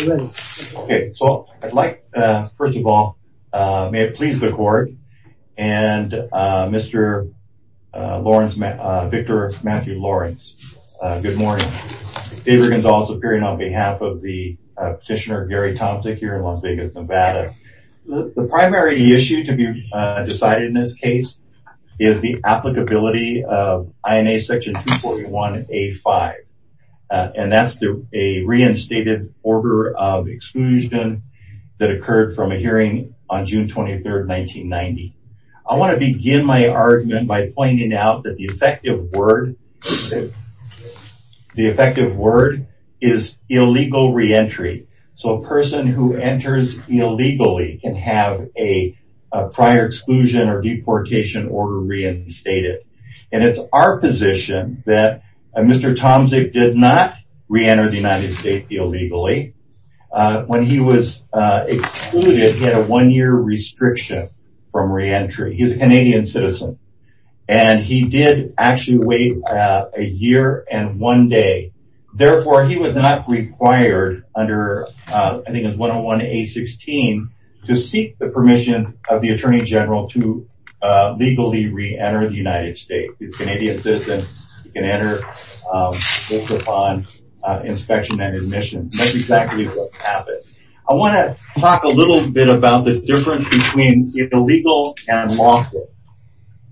First of all, may it please the court and Mr. Victor Matthew Lawrence, good morning. David Gonzalez appearing on behalf of the petitioner Gary Tomczyk here in Las Vegas, Nevada. The primary issue to be decided in this case is the applicability of INA section 241A-5 and that's a reinstated order of exclusion that occurred from a hearing on June 23, 1990. I want to begin my argument by pointing out that the effective word is illegal reentry. So a person who enters illegally can have a prior exclusion or deportation order reinstated. It's our position that Mr. Tomczyk did not reenter the United States illegally. When he was excluded, he had a one-year restriction from reentry. He's a Canadian citizen and he did actually wait a year and one day, therefore he was not required under 101A-16 to seek the permission of the Attorney General to legally reenter the United States. He's a Canadian citizen, he can enter based upon inspection and admission. That's exactly what happened. I want to talk a little bit about the difference between illegal and lawful.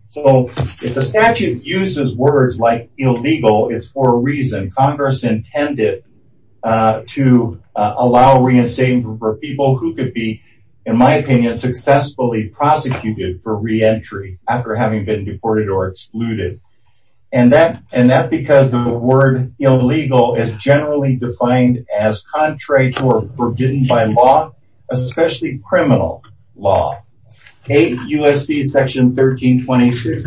So if the statute uses words like illegal, it's for a reason. Congress intended to allow reinstating for people who could be, in my opinion, successfully prosecuted for reentry after having been deported or excluded. And that's because the word illegal is generally defined as contrary to or forbidden by law, especially criminal law. 8 U.S.C. section 1326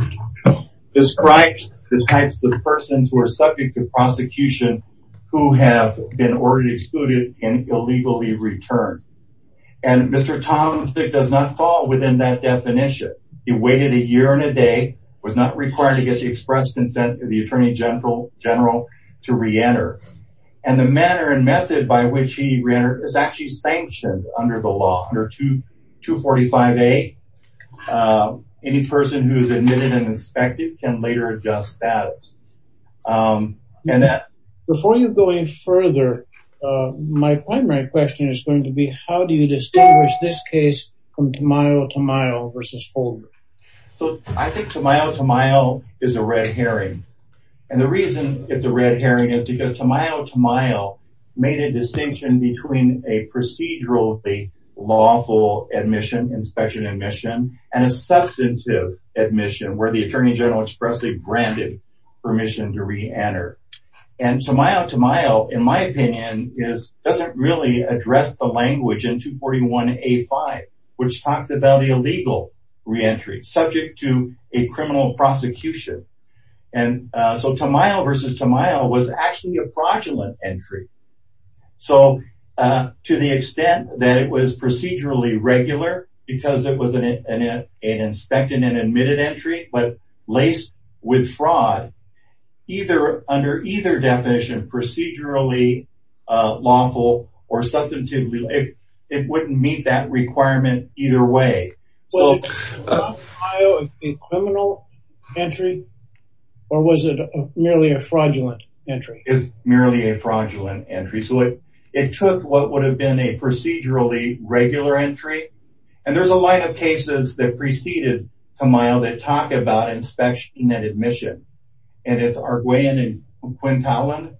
describes the types of persons who are subject to prosecution who have been ordered excluded and illegally returned. And Mr. Tompkins does not fall within that definition. He waited a year and a day, was not required to get the express consent of the Attorney General to reenter. And the manner and method by which he reentered is actually sanctioned under the law, under 245A. Any person who is admitted and inspected can later adjust status. Before you go any further, my primary question is going to be how do you distinguish this case from Tamayo-Tamayo versus Holder? So I think Tamayo-Tamayo is a red herring. And the reason it's a red herring is because Tamayo-Tamayo made a distinction between a procedurally lawful admission, inspection admission, and a substantive admission where the Attorney General expressly granted permission to reenter. And Tamayo-Tamayo, in my opinion, doesn't really address the language in 241A.5, which talks about the illegal reentry, subject to a criminal prosecution. And so Tamayo versus Tamayo was actually a fraudulent entry. So to the extent that it was procedurally regular because it was an inspected and admitted entry but laced with fraud, under either definition, procedurally lawful or substantive, it wouldn't meet that requirement either way. Was Tamayo a criminal entry or was it merely a fraudulent entry? It was merely a fraudulent entry. So it took what would have been a procedurally regular entry. And there's a line of cases that preceded Tamayo that talk about inspection and admission. And it's Arguellin and Quintalan.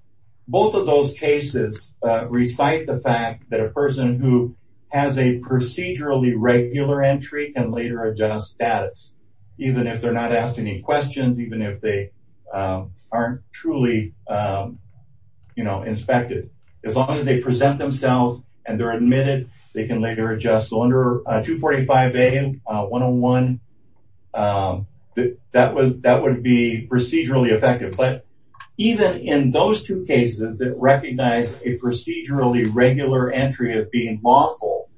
Both of those cases recite the fact that a person who has a procedurally regular entry can later adjust status, even if they're not asked any questions, even if they aren't truly inspected. As long as they present themselves and they're admitted, they can later adjust. So under 245A, 101, that would be procedurally effective. But even in those two cases that recognize a procedurally regular entry as being lawful,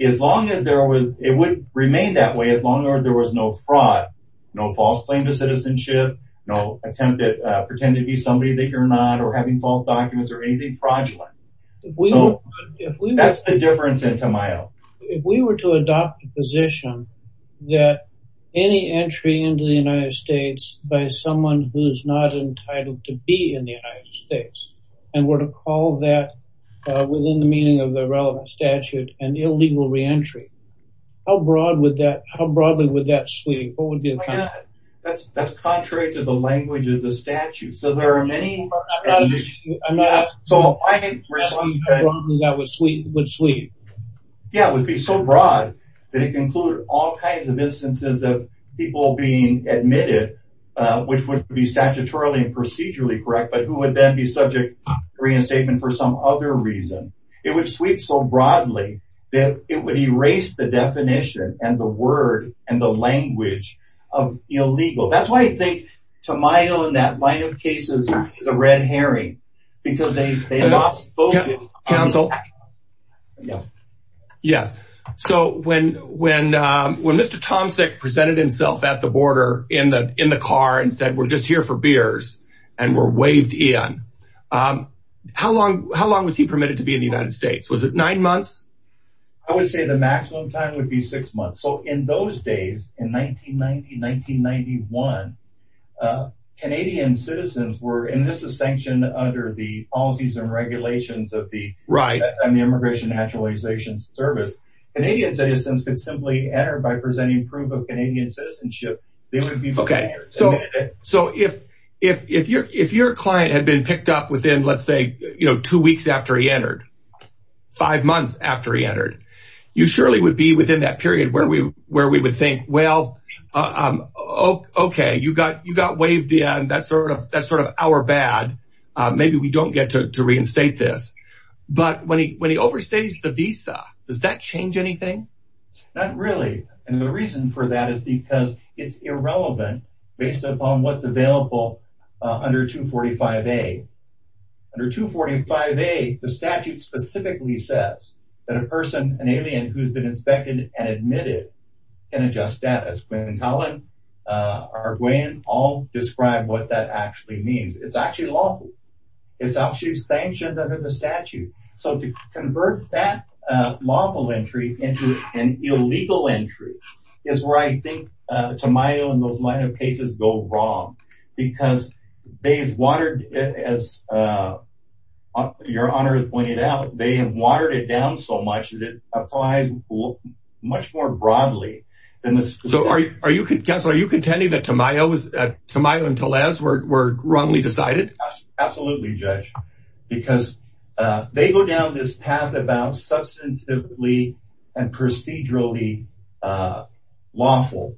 as long as there was, it would remain that way as long as there was no fraud, no false claim to citizenship, no attempt to pretend to be somebody that you're not or having false documents or anything fraudulent. That's the difference in Tamayo. If we were to adopt a position that any entry into the United States by someone who is not entitled to be in the United States and were to call that within the meaning of the relevant statute an illegal re-entry, how broadly would that sweep? That's contrary to the language of the statute. So there are many... I'm not... So I think... So broadly that would sweep? Yeah, it would be so broad that it can include all kinds of instances of people being admitted, which would be statutorily and procedurally correct, but who would then be subject to reinstatement for some other reason. It would sweep so broadly that it would erase the definition and the word and the language of illegal. That's why I think Tamayo in that line of cases is a red herring, because they lost focus on the fact. Counsel? Yeah. Yes. So when Mr. Tomczyk presented himself at the border in the car and said, we're just here for beers and were waved in, how long was he permitted to be in the United States? Was it nine months? I would say the maximum time would be six months. So in those days, in 1990, 1991, Canadian citizens were... And this is sanctioned under the policies and regulations of the Immigration and Naturalization Service. Canadian citizens could simply enter by presenting proof of Canadian citizenship. They would be permitted. So if your client had been picked up within, let's say, two weeks after he entered, five would be within that period where we would think, well, okay, you got waved in. That's sort of our bad. Maybe we don't get to reinstate this. But when he overstays the visa, does that change anything? Not really. And the reason for that is because it's irrelevant based upon what's available under 245A. Under 245A, the statute specifically says that a person, an alien who's been inspected and admitted, can adjust status. Quinn and Collin, Arguellin, all describe what that actually means. It's actually lawful. It's actually sanctioned under the statute. So to convert that lawful entry into an illegal entry is where I think, to my own mind, cases go wrong. Because they've watered, as your Honor has pointed out, they have watered it down so much that it applies much more broadly. So are you contending that Tamayo and Tellez were wrongly decided? Absolutely, Judge. Because they go down this path about substantively and procedurally lawful.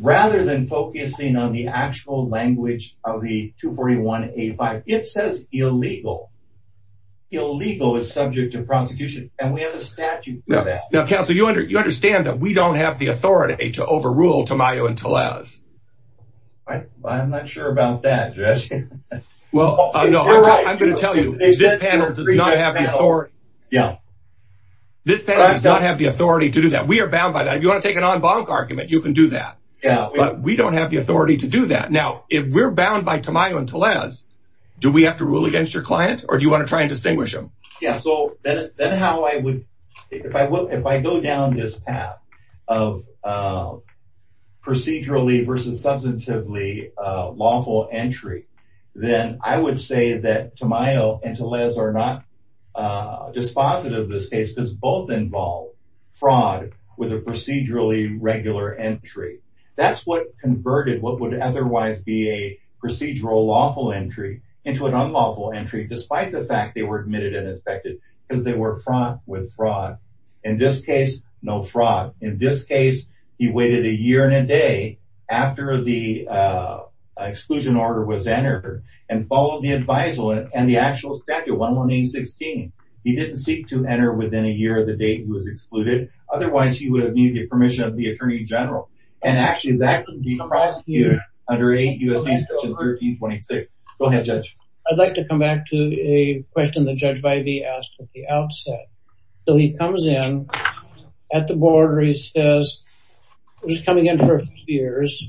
Rather than focusing on the actual language of the 241A5, it says illegal. Illegal is subject to prosecution. And we have a statute for that. Now, Counselor, you understand that we don't have the authority to overrule Tamayo and Tellez. I'm not sure about that, Judge. Well, no, I'm going to tell you, this panel does not have the authority. This panel does not have the authority to do that. We are bound by that. And if you want to take an en banc argument, you can do that. But we don't have the authority to do that. Now, if we're bound by Tamayo and Tellez, do we have to rule against your client? Or do you want to try and distinguish them? Yeah, so then how I would, if I go down this path of procedurally versus substantively lawful entry, then I would say that Tamayo and Tellez are not dispositive of this case because both involve fraud with a procedurally regular entry. That's what converted what would otherwise be a procedural lawful entry into an unlawful entry despite the fact they were admitted and inspected because they were fraught with fraud. In this case, no fraud. In this case, he waited a year and a day after the exclusion order was entered and followed the advisory and the actual statute, 118.16. He didn't seek to enter within a year of the date he was excluded. Otherwise, he would have needed the permission of the Attorney General. And actually, that can be prosecuted under 8 U.S.C. section 1326. Go ahead, Judge. I'd like to come back to a question that Judge Vivey asked at the outset. So he comes in at the board where he says he was coming in for a few years.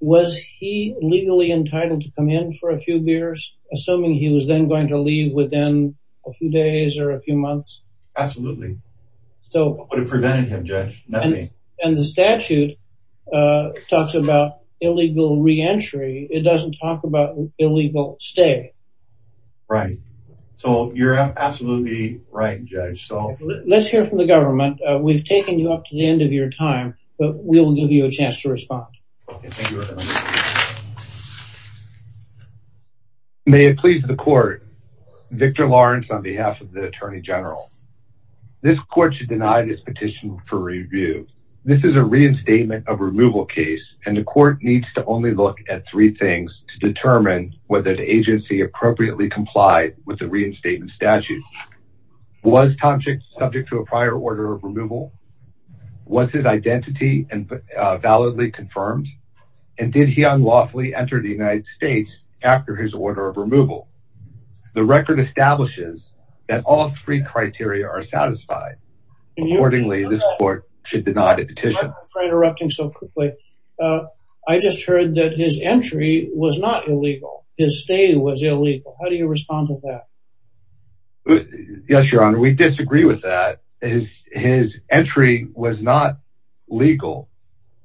Was he legally entitled to come in for a few years, assuming he was then going to leave within a few days or a few months? Absolutely. What would have prevented him, Judge? Nothing. And the statute talks about illegal reentry. It doesn't talk about illegal stay. Right. So you're absolutely right, Judge. Let's hear from the government. We've taken you up to the end of your time, but we'll give you a chance to respond. Okay. Thank you very much. May it please the court. Victor Lawrence on behalf of the Attorney General. This court should deny this petition for review. This is a reinstatement of removal case, and the court needs to only look at three things to determine whether the agency appropriately complied with the reinstatement statute. Was Tomczyk subject to a prior order of removal? Was his identity validly confirmed? And did he unlawfully enter the United States after his order of removal? The record establishes that all three criteria are satisfied. Accordingly, this court should deny the petition. I'm afraid of erupting so quickly. I just heard that his entry was not illegal. His stay was illegal. How do you respond to that? Yes, Your Honor. We disagree with that. His entry was not legal.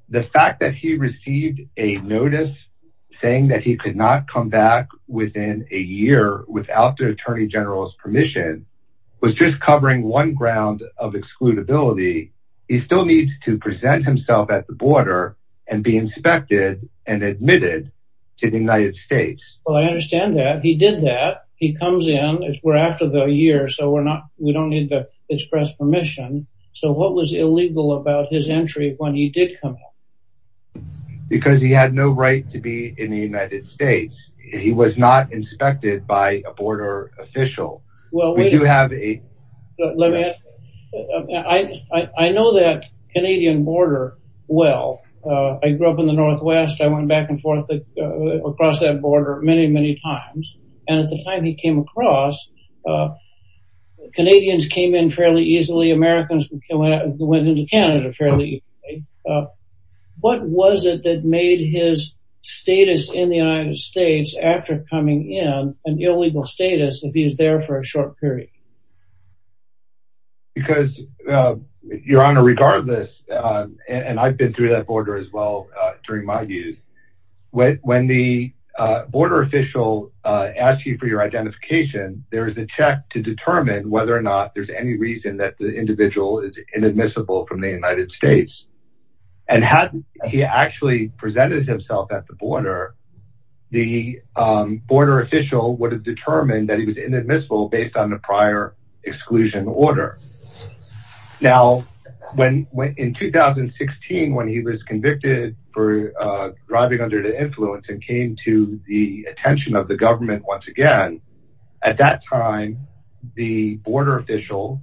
The fact that he received a notice saying that he could not come back within a year without the Attorney General's permission was just covering one ground of excludability. He still needs to present himself at the border and be inspected and admitted to the United States. Well, I understand that. He did that. He comes in. We're after the year, so we don't need to express permission. So what was illegal about his entry when he did come in? Because he had no right to be in the United States. He was not inspected by a border official. We do have a... Let me ask you. I know that Canadian border well. I grew up in the Northwest. I went back and forth across that border many, many times. And at the time he came across, Canadians came in fairly easily. Americans went into Canada fairly easily. What was it that made his status in the United States, after coming in, an illegal status if he was there for a short period? Because, Your Honor, regardless... And I've been through that border as well during my youth. When the border official asks you for your identification, there is a check to determine whether or not there's any reason that the individual is inadmissible from the United States. And had he actually presented himself at the border, the border official would have determined that he was inadmissible based on the prior exclusion order. Now, in 2016, when he was convicted for driving under the influence and came to the attention of the government once again, at that time, the border official,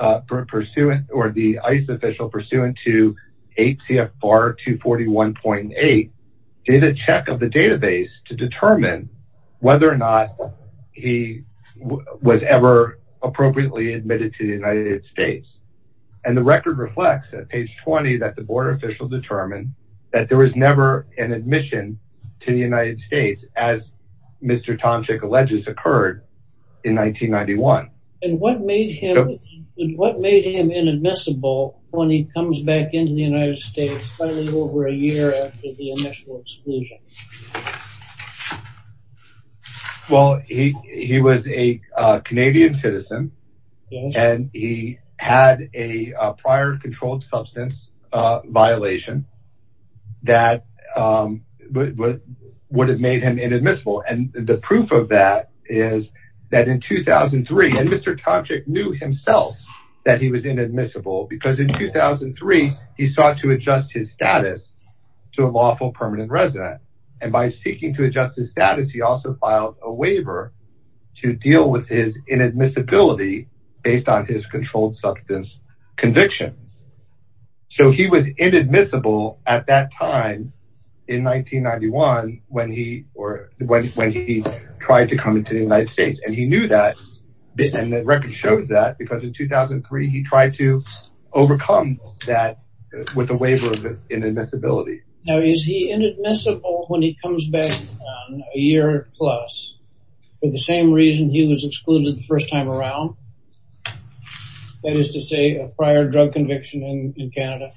or the ICE official, pursuant to 8 CFR 241.8, did a check of the database to determine whether or not he was ever appropriately admitted to the United States. And the record reflects, at page 20, that the border official determined that there was never an admission to the United States as Mr. Tomczyk alleges occurred in 1991. And what made him inadmissible when he comes back into the United States finally over a year after the initial exclusion? Well, he was a Canadian citizen and he had a prior controlled substance violation that would have made him inadmissible. And the proof of that is that in 2003, and Mr. Tomczyk knew himself that he was inadmissible because in 2003, he sought to adjust his status to a lawful permanent resident. And by seeking to adjust his status, he also filed a waiver to deal with his inadmissibility based on his controlled substance conviction. So he was inadmissible at that time in 1991 when he tried to come into the United States. And he knew that, and the record shows that, because in 2003, he tried to overcome that with a waiver of inadmissibility. Now, is he inadmissible when he comes back a year plus, for the same reason he was excluded the first time around? That is to say, a prior drug conviction in Canada?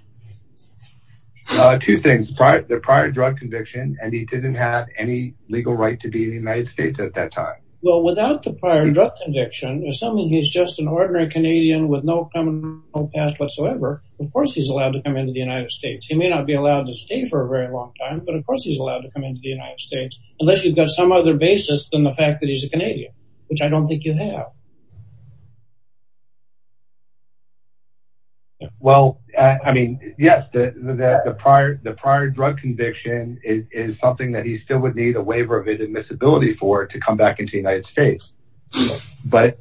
Two things. The prior drug conviction, and he didn't have any legal right to be in the United States at that time. Well, without the prior drug conviction, assuming he's just an ordinary Canadian with no criminal past whatsoever, of course he's allowed to come into the United States. He may not be allowed to stay for a very long time, but of course he's allowed to come into the United States unless you've got some other basis than the fact that he's a Canadian, which I don't think you have. Well, I mean, yes, the prior drug conviction is something that he still would need a waiver of inadmissibility for to come back into the United States, but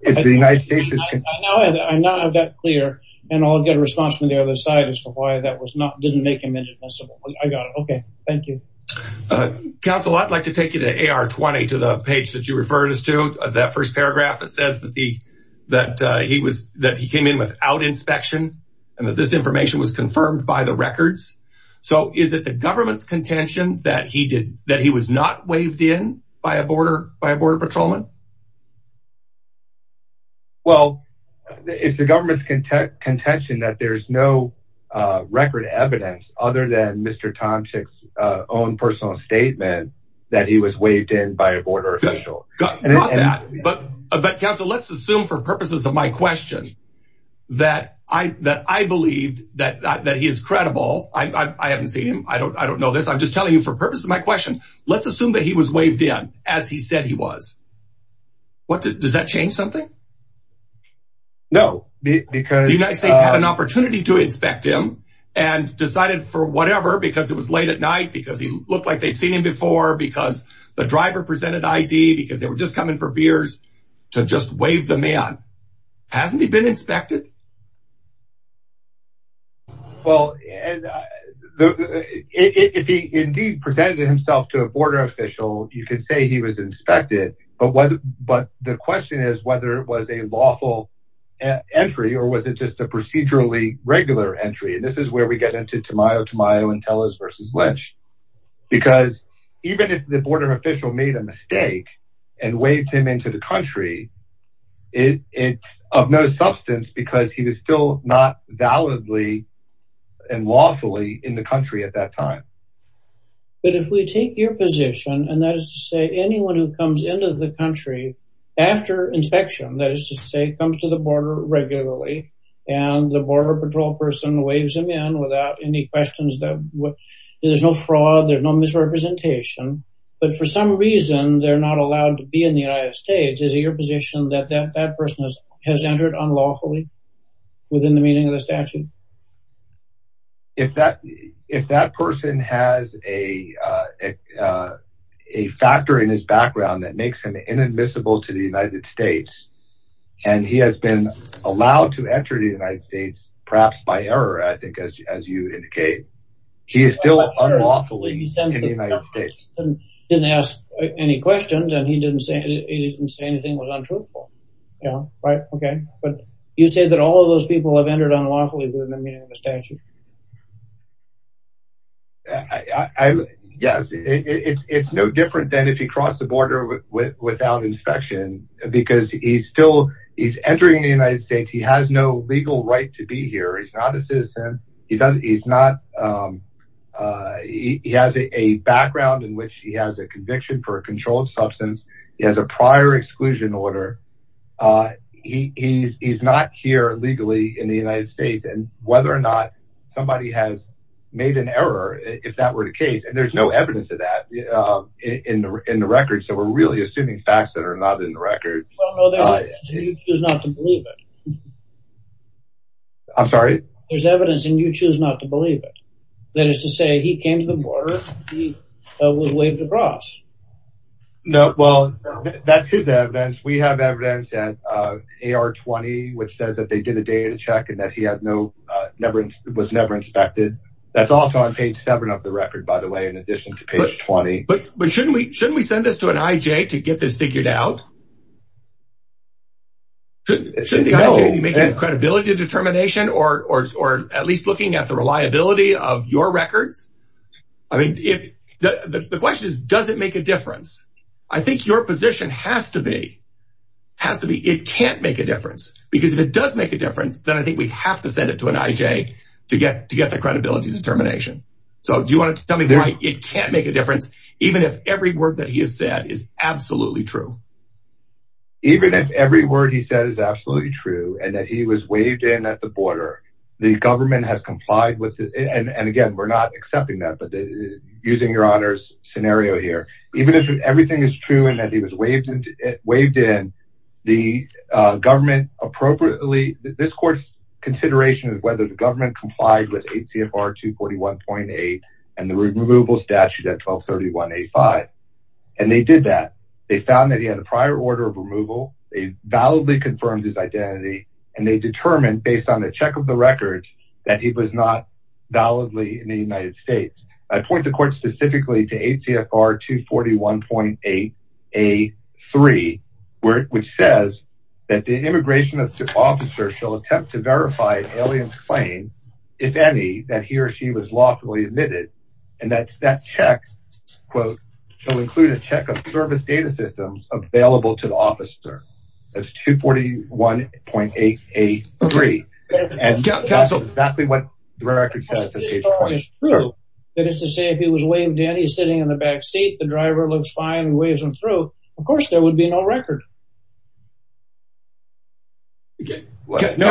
if the United States is... I now have that clear, and I'll get a response from the other side as to why that didn't make him inadmissible. I got it. Okay. Thank you. Counsel, I'd like to take you to AR-20, to the page that you referred us to, that first paragraph that says that he came in without inspection, and that this information was confirmed by the records. So is it the government's contention that he was not waived in by a border patrolman? Well, it's the government's contention that there's no record evidence other than Mr. Tomczyk's own personal statement that he was waived in by a border official. Got that. But counsel, let's assume for purposes of my question that I believed that he is credible. I haven't seen him. I don't know this. I'm just telling you for purposes of my question. Let's assume that he was waived in as he said he was. Does that change something? No, because... The United States had an opportunity to inspect him and decided for whatever, because it was late at night, because he looked like they'd seen him before, because the driver presented ID, because they were just coming for beers, to just waive the man. Hasn't he been inspected? Well, if he indeed presented himself to a border official, you could say he was inspected. But the question is whether it was a lawful entry or was it just a procedurally regular entry. And this is where we get into Tamayo Tamayo and Tellez versus Lynch. Because even if the border official made a mistake and waived him into the country, it's of no substance because he was still not validly and lawfully in the country at that time. But if we take your position, and that is to say anyone who comes into the country after inspection, that is to say comes to the border regularly, and the border patrol person waives him in without any questions. There's no fraud, there's no misrepresentation. But for some reason, they're not allowed to be in the United States. Is it your position that that person has entered unlawfully within the meaning of the statute? If that person has a factor in his background that makes him inadmissible to the United States, and he has been allowed to enter the United States, perhaps by error, I think, as you indicate, he is still unlawfully in the United States. He didn't ask any questions and he didn't say anything was untruthful. But you say that all of those people have entered unlawfully within the meaning of the statute. Yes, it's no different than if he crossed the border without inspection, because he's still, he's entering the United States. He has no legal right to be here. He's not a citizen. He has a background in which he has a conviction for a controlled substance. He has a prior exclusion order. He's not here legally in the United States. And whether or not somebody has made an error, if that were the case, and there's no evidence of that in the record, so we're really assuming facts that are not in the record. Well, no, there's evidence and you choose not to believe it. I'm sorry? There's evidence and you choose not to believe it. That is to say, he came to the border, he was waived the cross. No, well, that's his evidence. We have evidence that AR-20, which says that they did a data check and that he was never inspected. That's also on page 7 of the record, by the way, in addition to page 20. But shouldn't we send this to an IJ to get this figured out? Shouldn't the IJ be making a credibility determination, or at least looking at the reliability of your records? The question is, does it make a difference? I think your position has to be, it can't make a difference. Because if it does make a difference, then I think we have to send it to an IJ to get the credibility determination. So do you want to tell me why it can't make a difference, even if every word that he has said is absolutely true? Even if every word he said is absolutely true, and that he was waived in at the border, the government has complied with this. And again, we're not accepting that, but using your honor's scenario here. Even if everything is true and that he was waived in, the government appropriately, this court's consideration is whether the government complied with ACFR 241.8 and the removal statute at 1231.85. And they did that. They found that he had a prior order of removal. They validly confirmed his identity. And they determined, based on the check of the record, that he was not validly in the United States. I point the court specifically to ACFR 241.8A3, which says that the immigration officer shall attempt to verify an alien's claim, if any, that he or she was lawfully admitted. And that check, quote, shall include a check of service data systems available to the officer. That's 241.8A3. And that's exactly what the record says. If this story is true, that is to say, if he was waived and he's sitting in the backseat, the driver looks fine and waves him through, of course there would be no record. Let me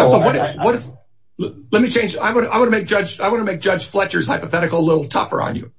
change. I want to make Judge Fletcher's hypothetical a little tougher on you.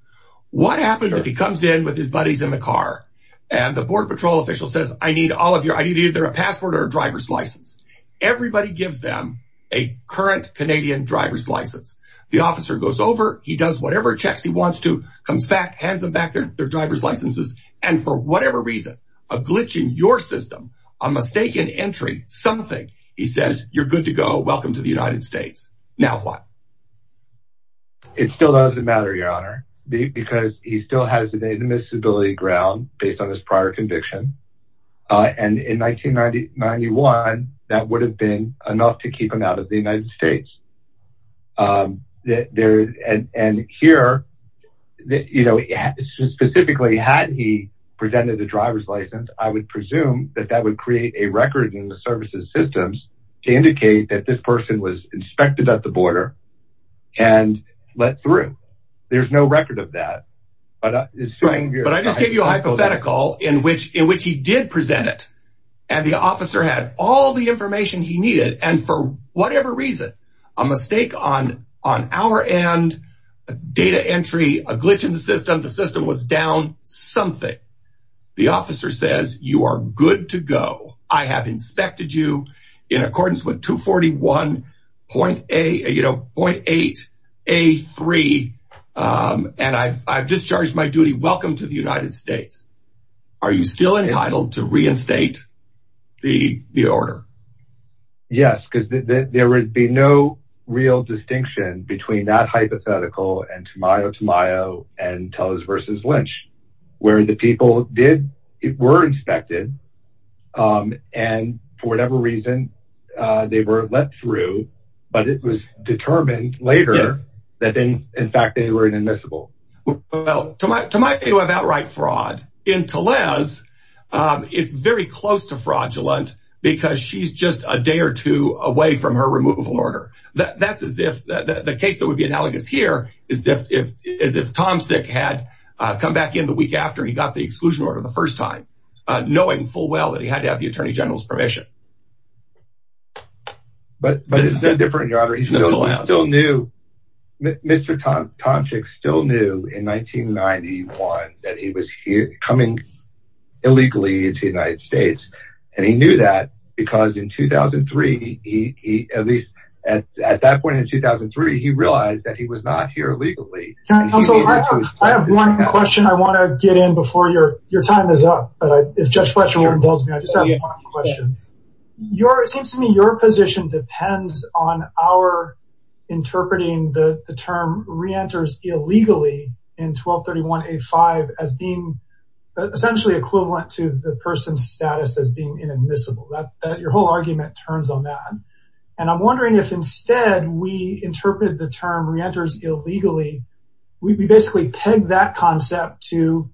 What happens if he comes in with his buddies in the car and the Border Patrol official says, I need either a passport or a driver's license? Everybody gives them a current Canadian driver's license. The officer goes over, he does whatever checks he wants to, comes back, hands them back their driver's licenses, and for whatever reason, a glitch in your system, a mistaken entry, something, he says, you're good to go, welcome to the United States. Now what? It still doesn't matter, Your Honor, because he still has an admissibility ground based on his prior conviction. And in 1991, that would have been enough to keep him out of the United States. And here, you know, specifically had he presented a driver's license, I would presume that that would create a record in the services systems to indicate that this person was inspected at the border and let through. There's no record of that. But I just gave you a hypothetical in which he did present it, and the officer had all the information he needed, and for whatever reason, a mistake on our end, a data entry, a glitch in the system, the system was down, something. The officer says, you are good to go. I have inspected you in accordance with 241.8A3, and I've discharged my duty. Welcome to the United States. Are you still entitled to reinstate the order? Yes, because there would be no real distinction between that hypothetical and Tamayo Tamayo and Tellers v. Lynch, where the people were inspected, and for whatever reason, they were let through, but it was determined later that, in fact, they were inadmissible. Well, Tamayo had outright fraud. In Tellers, it's very close to fraudulent because she's just a day or two away from her removal order. That's as if the case that would be analogous here is if Tomsic had come back in the week after he got the exclusion order the first time, knowing full well that he had to have the Attorney General's permission. But it's no different, Your Honor. He still knew. Mr. Tomsic still knew in 1991 that he was coming illegally into the United States, and he knew that because in 2003, at least at that point in 2003, he realized that he was not here legally. Counsel, I have one question I want to get in before your time is up. If Judge Fletcher won't indulge me, I just have one question. It seems to me your position depends on our interpreting the term re-enters illegally in 1231A5 as being essentially equivalent to the person's status as being inadmissible. Your whole argument turns on that. And I'm wondering if, instead, we interpreted the term re-enters illegally, we basically pegged that concept to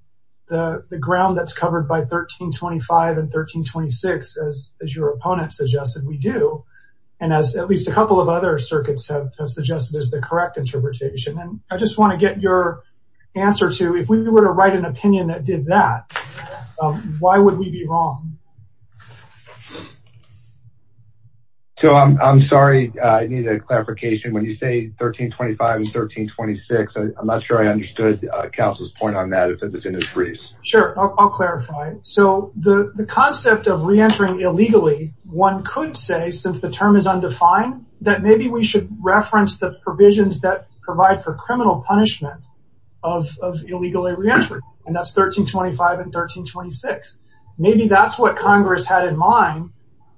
the ground that's covered by 1325 and 1326, as your opponent suggested we do, and as at least a couple of other circuits have suggested as the correct interpretation. And I just want to get your answer to, if we were to write an opinion that did that, why would we be wrong? So, I'm sorry. I need a clarification. When you say 1325 and 1326, I'm not sure I understood Counsel's point on that, because it's in his briefs. Sure, I'll clarify. So, the concept of re-entering illegally, one could say, since the term is undefined, that maybe we should reference the provisions that provide for criminal punishment of illegal re-entry. And that's 1325 and 1326. Maybe that's what Congress had in mind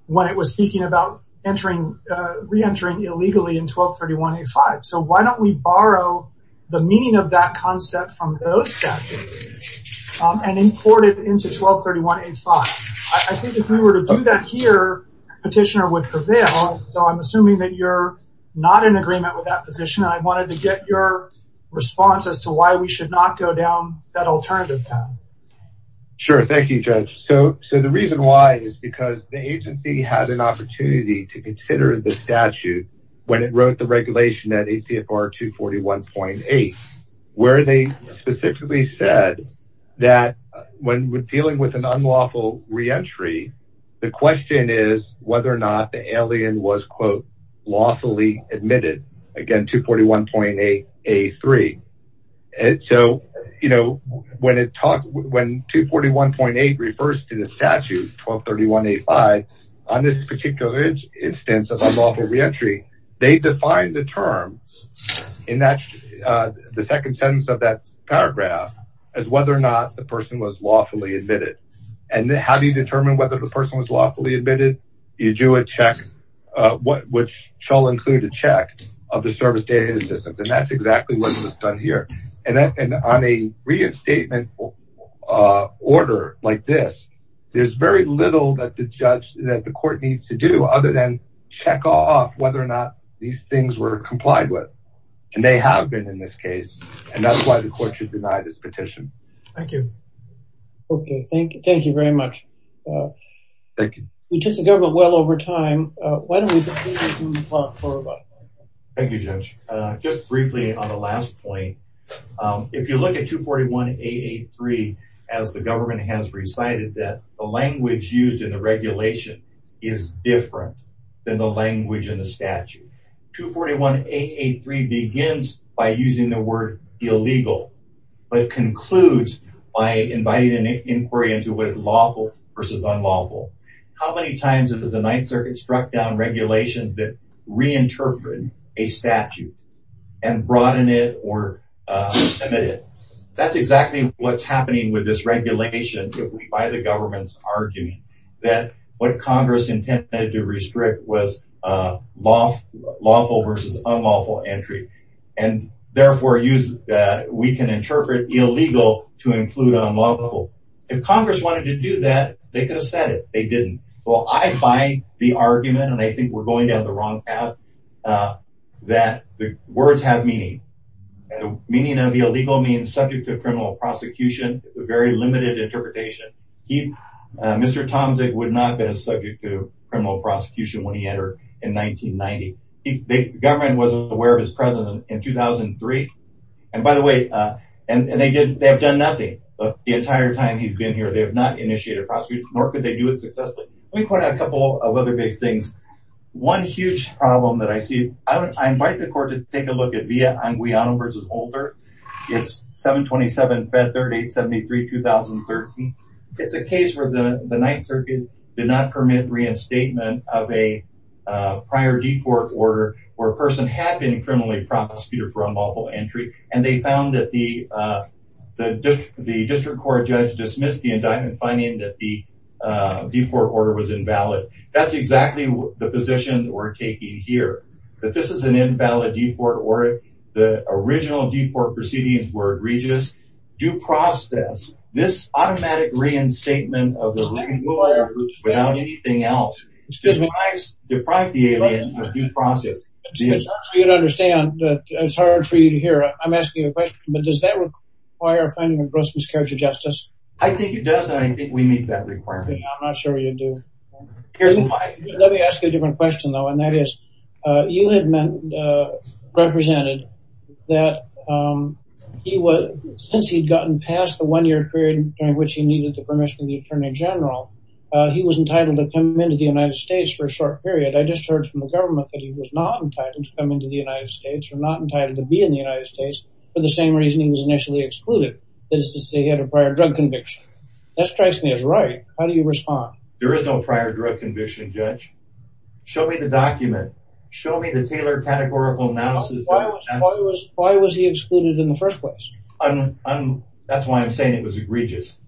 when it was speaking about re-entering illegally in 1231A5. So, why don't we borrow the meaning of that concept from those statutes and import it into 1231A5? I think if we were to do that here, Petitioner would prevail. So, I'm assuming that you're not in agreement with that position, and I wanted to get your response as to why we should not go down that alternative path. Sure. Thank you, Judge. So, the reason why is because the agency had an opportunity to consider the statute when it wrote the regulation at ACFR 241.8, where they specifically said that when dealing with an unlawful re-entry, the question is whether or not the alien was, quote, lawfully admitted, again, 241.8A3. And so, you know, when 241.8 refers to the statute 1231A5, on this particular instance of unlawful re-entry, they defined the term in the second sentence of that paragraph as whether or not the person was lawfully admitted. And how do you determine whether the person was lawfully admitted? You do a check, which shall include a check of the service data assistance, and that's exactly what was done here. And on a reinstatement order like this, there's very little that the court needs to do other than check off whether or not these things were complied with. And they have been in this case, and that's why the court should deny this petition. Thank you. Okay, thank you very much. Thank you. We took the government well over time. Why don't we move on? Thank you, Judge. Just briefly on the last point, if you look at 241.8A3, as the government has recited, that the language used in the regulation is different than the language in the statute. 241.8A3 begins by using the word illegal, but concludes by inviting an inquiry into what is lawful versus unlawful. How many times has the Ninth Circuit struck down regulations that reinterpret a statute and broaden it or limit it? That's exactly what's happening with this regulation by the government's argument that what Congress intended to restrict was lawful versus unlawful entry, and therefore we can interpret illegal to include unlawful. If Congress wanted to do that, they could have said it. They didn't. Well, I buy the argument, and I think we're going down the wrong path, that the words have meaning. Meaning of illegal means subject to criminal prosecution. It's a very limited interpretation. Mr. Tomzig would not have been subject to criminal prosecution when he entered in 1990. The government wasn't aware of his presence in 2003. And by the way, they have done nothing the entire time he's been here. They have not initiated prosecution, nor could they do it successfully. Let me point out a couple of other big things. One huge problem that I see, I invite the court to take a look at It's a case where the Ninth Circuit did not permit reinstatement of a prior deport order where a person had been criminally prosecuted for unlawful entry, and they found that the district court judge dismissed the indictment, finding that the deport order was invalid. That's exactly the position we're taking here, that this is an invalid deport order. The original deport proceedings were egregious. Due process. This automatic reinstatement of the ruling without anything else deprived the alien of due process. It's hard for you to hear, I'm asking you a question, but does that require finding a gross miscarriage of justice? I think it does, and I think we meet that requirement. I'm not sure you do. Let me ask you a different question though, and that is, you had represented that since he'd gotten past the one-year period during which he needed the permission of the Attorney General, he was entitled to come into the United States for a short period. I just heard from the government that he was not entitled to come into the United States or not entitled to be in the United States for the same reason he was initially excluded, that is to say he had a prior drug conviction. That strikes me as right. How do you respond? There is no prior drug conviction, Judge. Show me the document. Show me the tailored categorical analysis. Why was he excluded in the first place? That's why I'm saying it was egregious.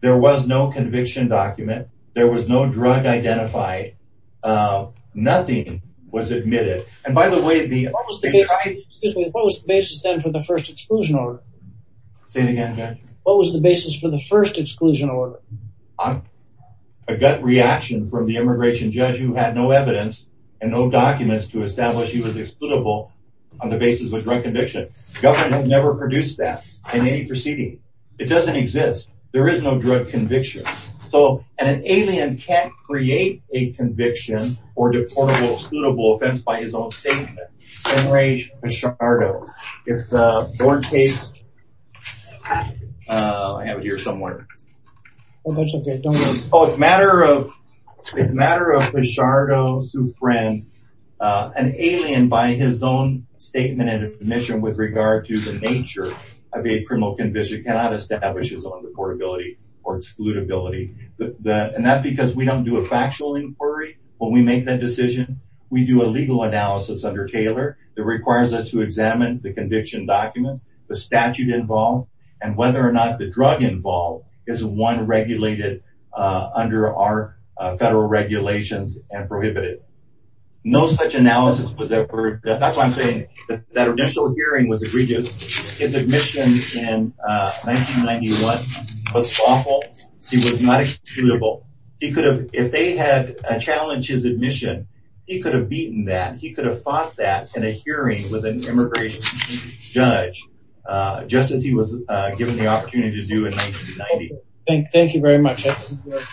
There was no conviction document. There was no drug identified. Nothing was admitted. And by the way, what was the basis then for the first exclusion order? Say it again, Judge. What was the basis for the first exclusion order? A gut reaction from the immigration judge who had no evidence and no documents to establish he was excludable on the basis of a drug conviction. The government never produced that in any proceeding. It doesn't exist. There is no drug conviction. And an alien can't create a conviction or deportable or excludable offense by his own statement. Enrage Pichardo. It's a broad case. I have it here somewhere. Oh, it's a matter of Pichardo, an alien by his own statement and admission with regard to the nature of a criminal conviction cannot establish his own deportability or excludability. And that's because we don't do a factual inquiry when we make that decision. We do a legal analysis under Taylor that requires us to examine the conviction documents, the statute involved, and whether or not the drug involved is one regulated under our federal regulations and prohibited. No such analysis was ever... That's why I'm saying that initial hearing was egregious. His admission in 1991 was thoughtful. He was not excludable. If they had challenged his admission, he could have beaten that. He could have fought that in a hearing with an immigration judge just as he was given the opportunity to do in 1990. Thank you very much.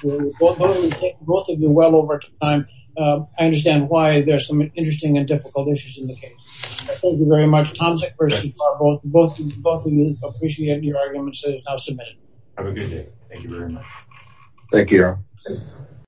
We'll take both of you well over time. I understand why there's some interesting and difficult issues in the case. Thank you very much. Both of you, appreciate your arguments. Have a good day. Thank you very much. Thank you.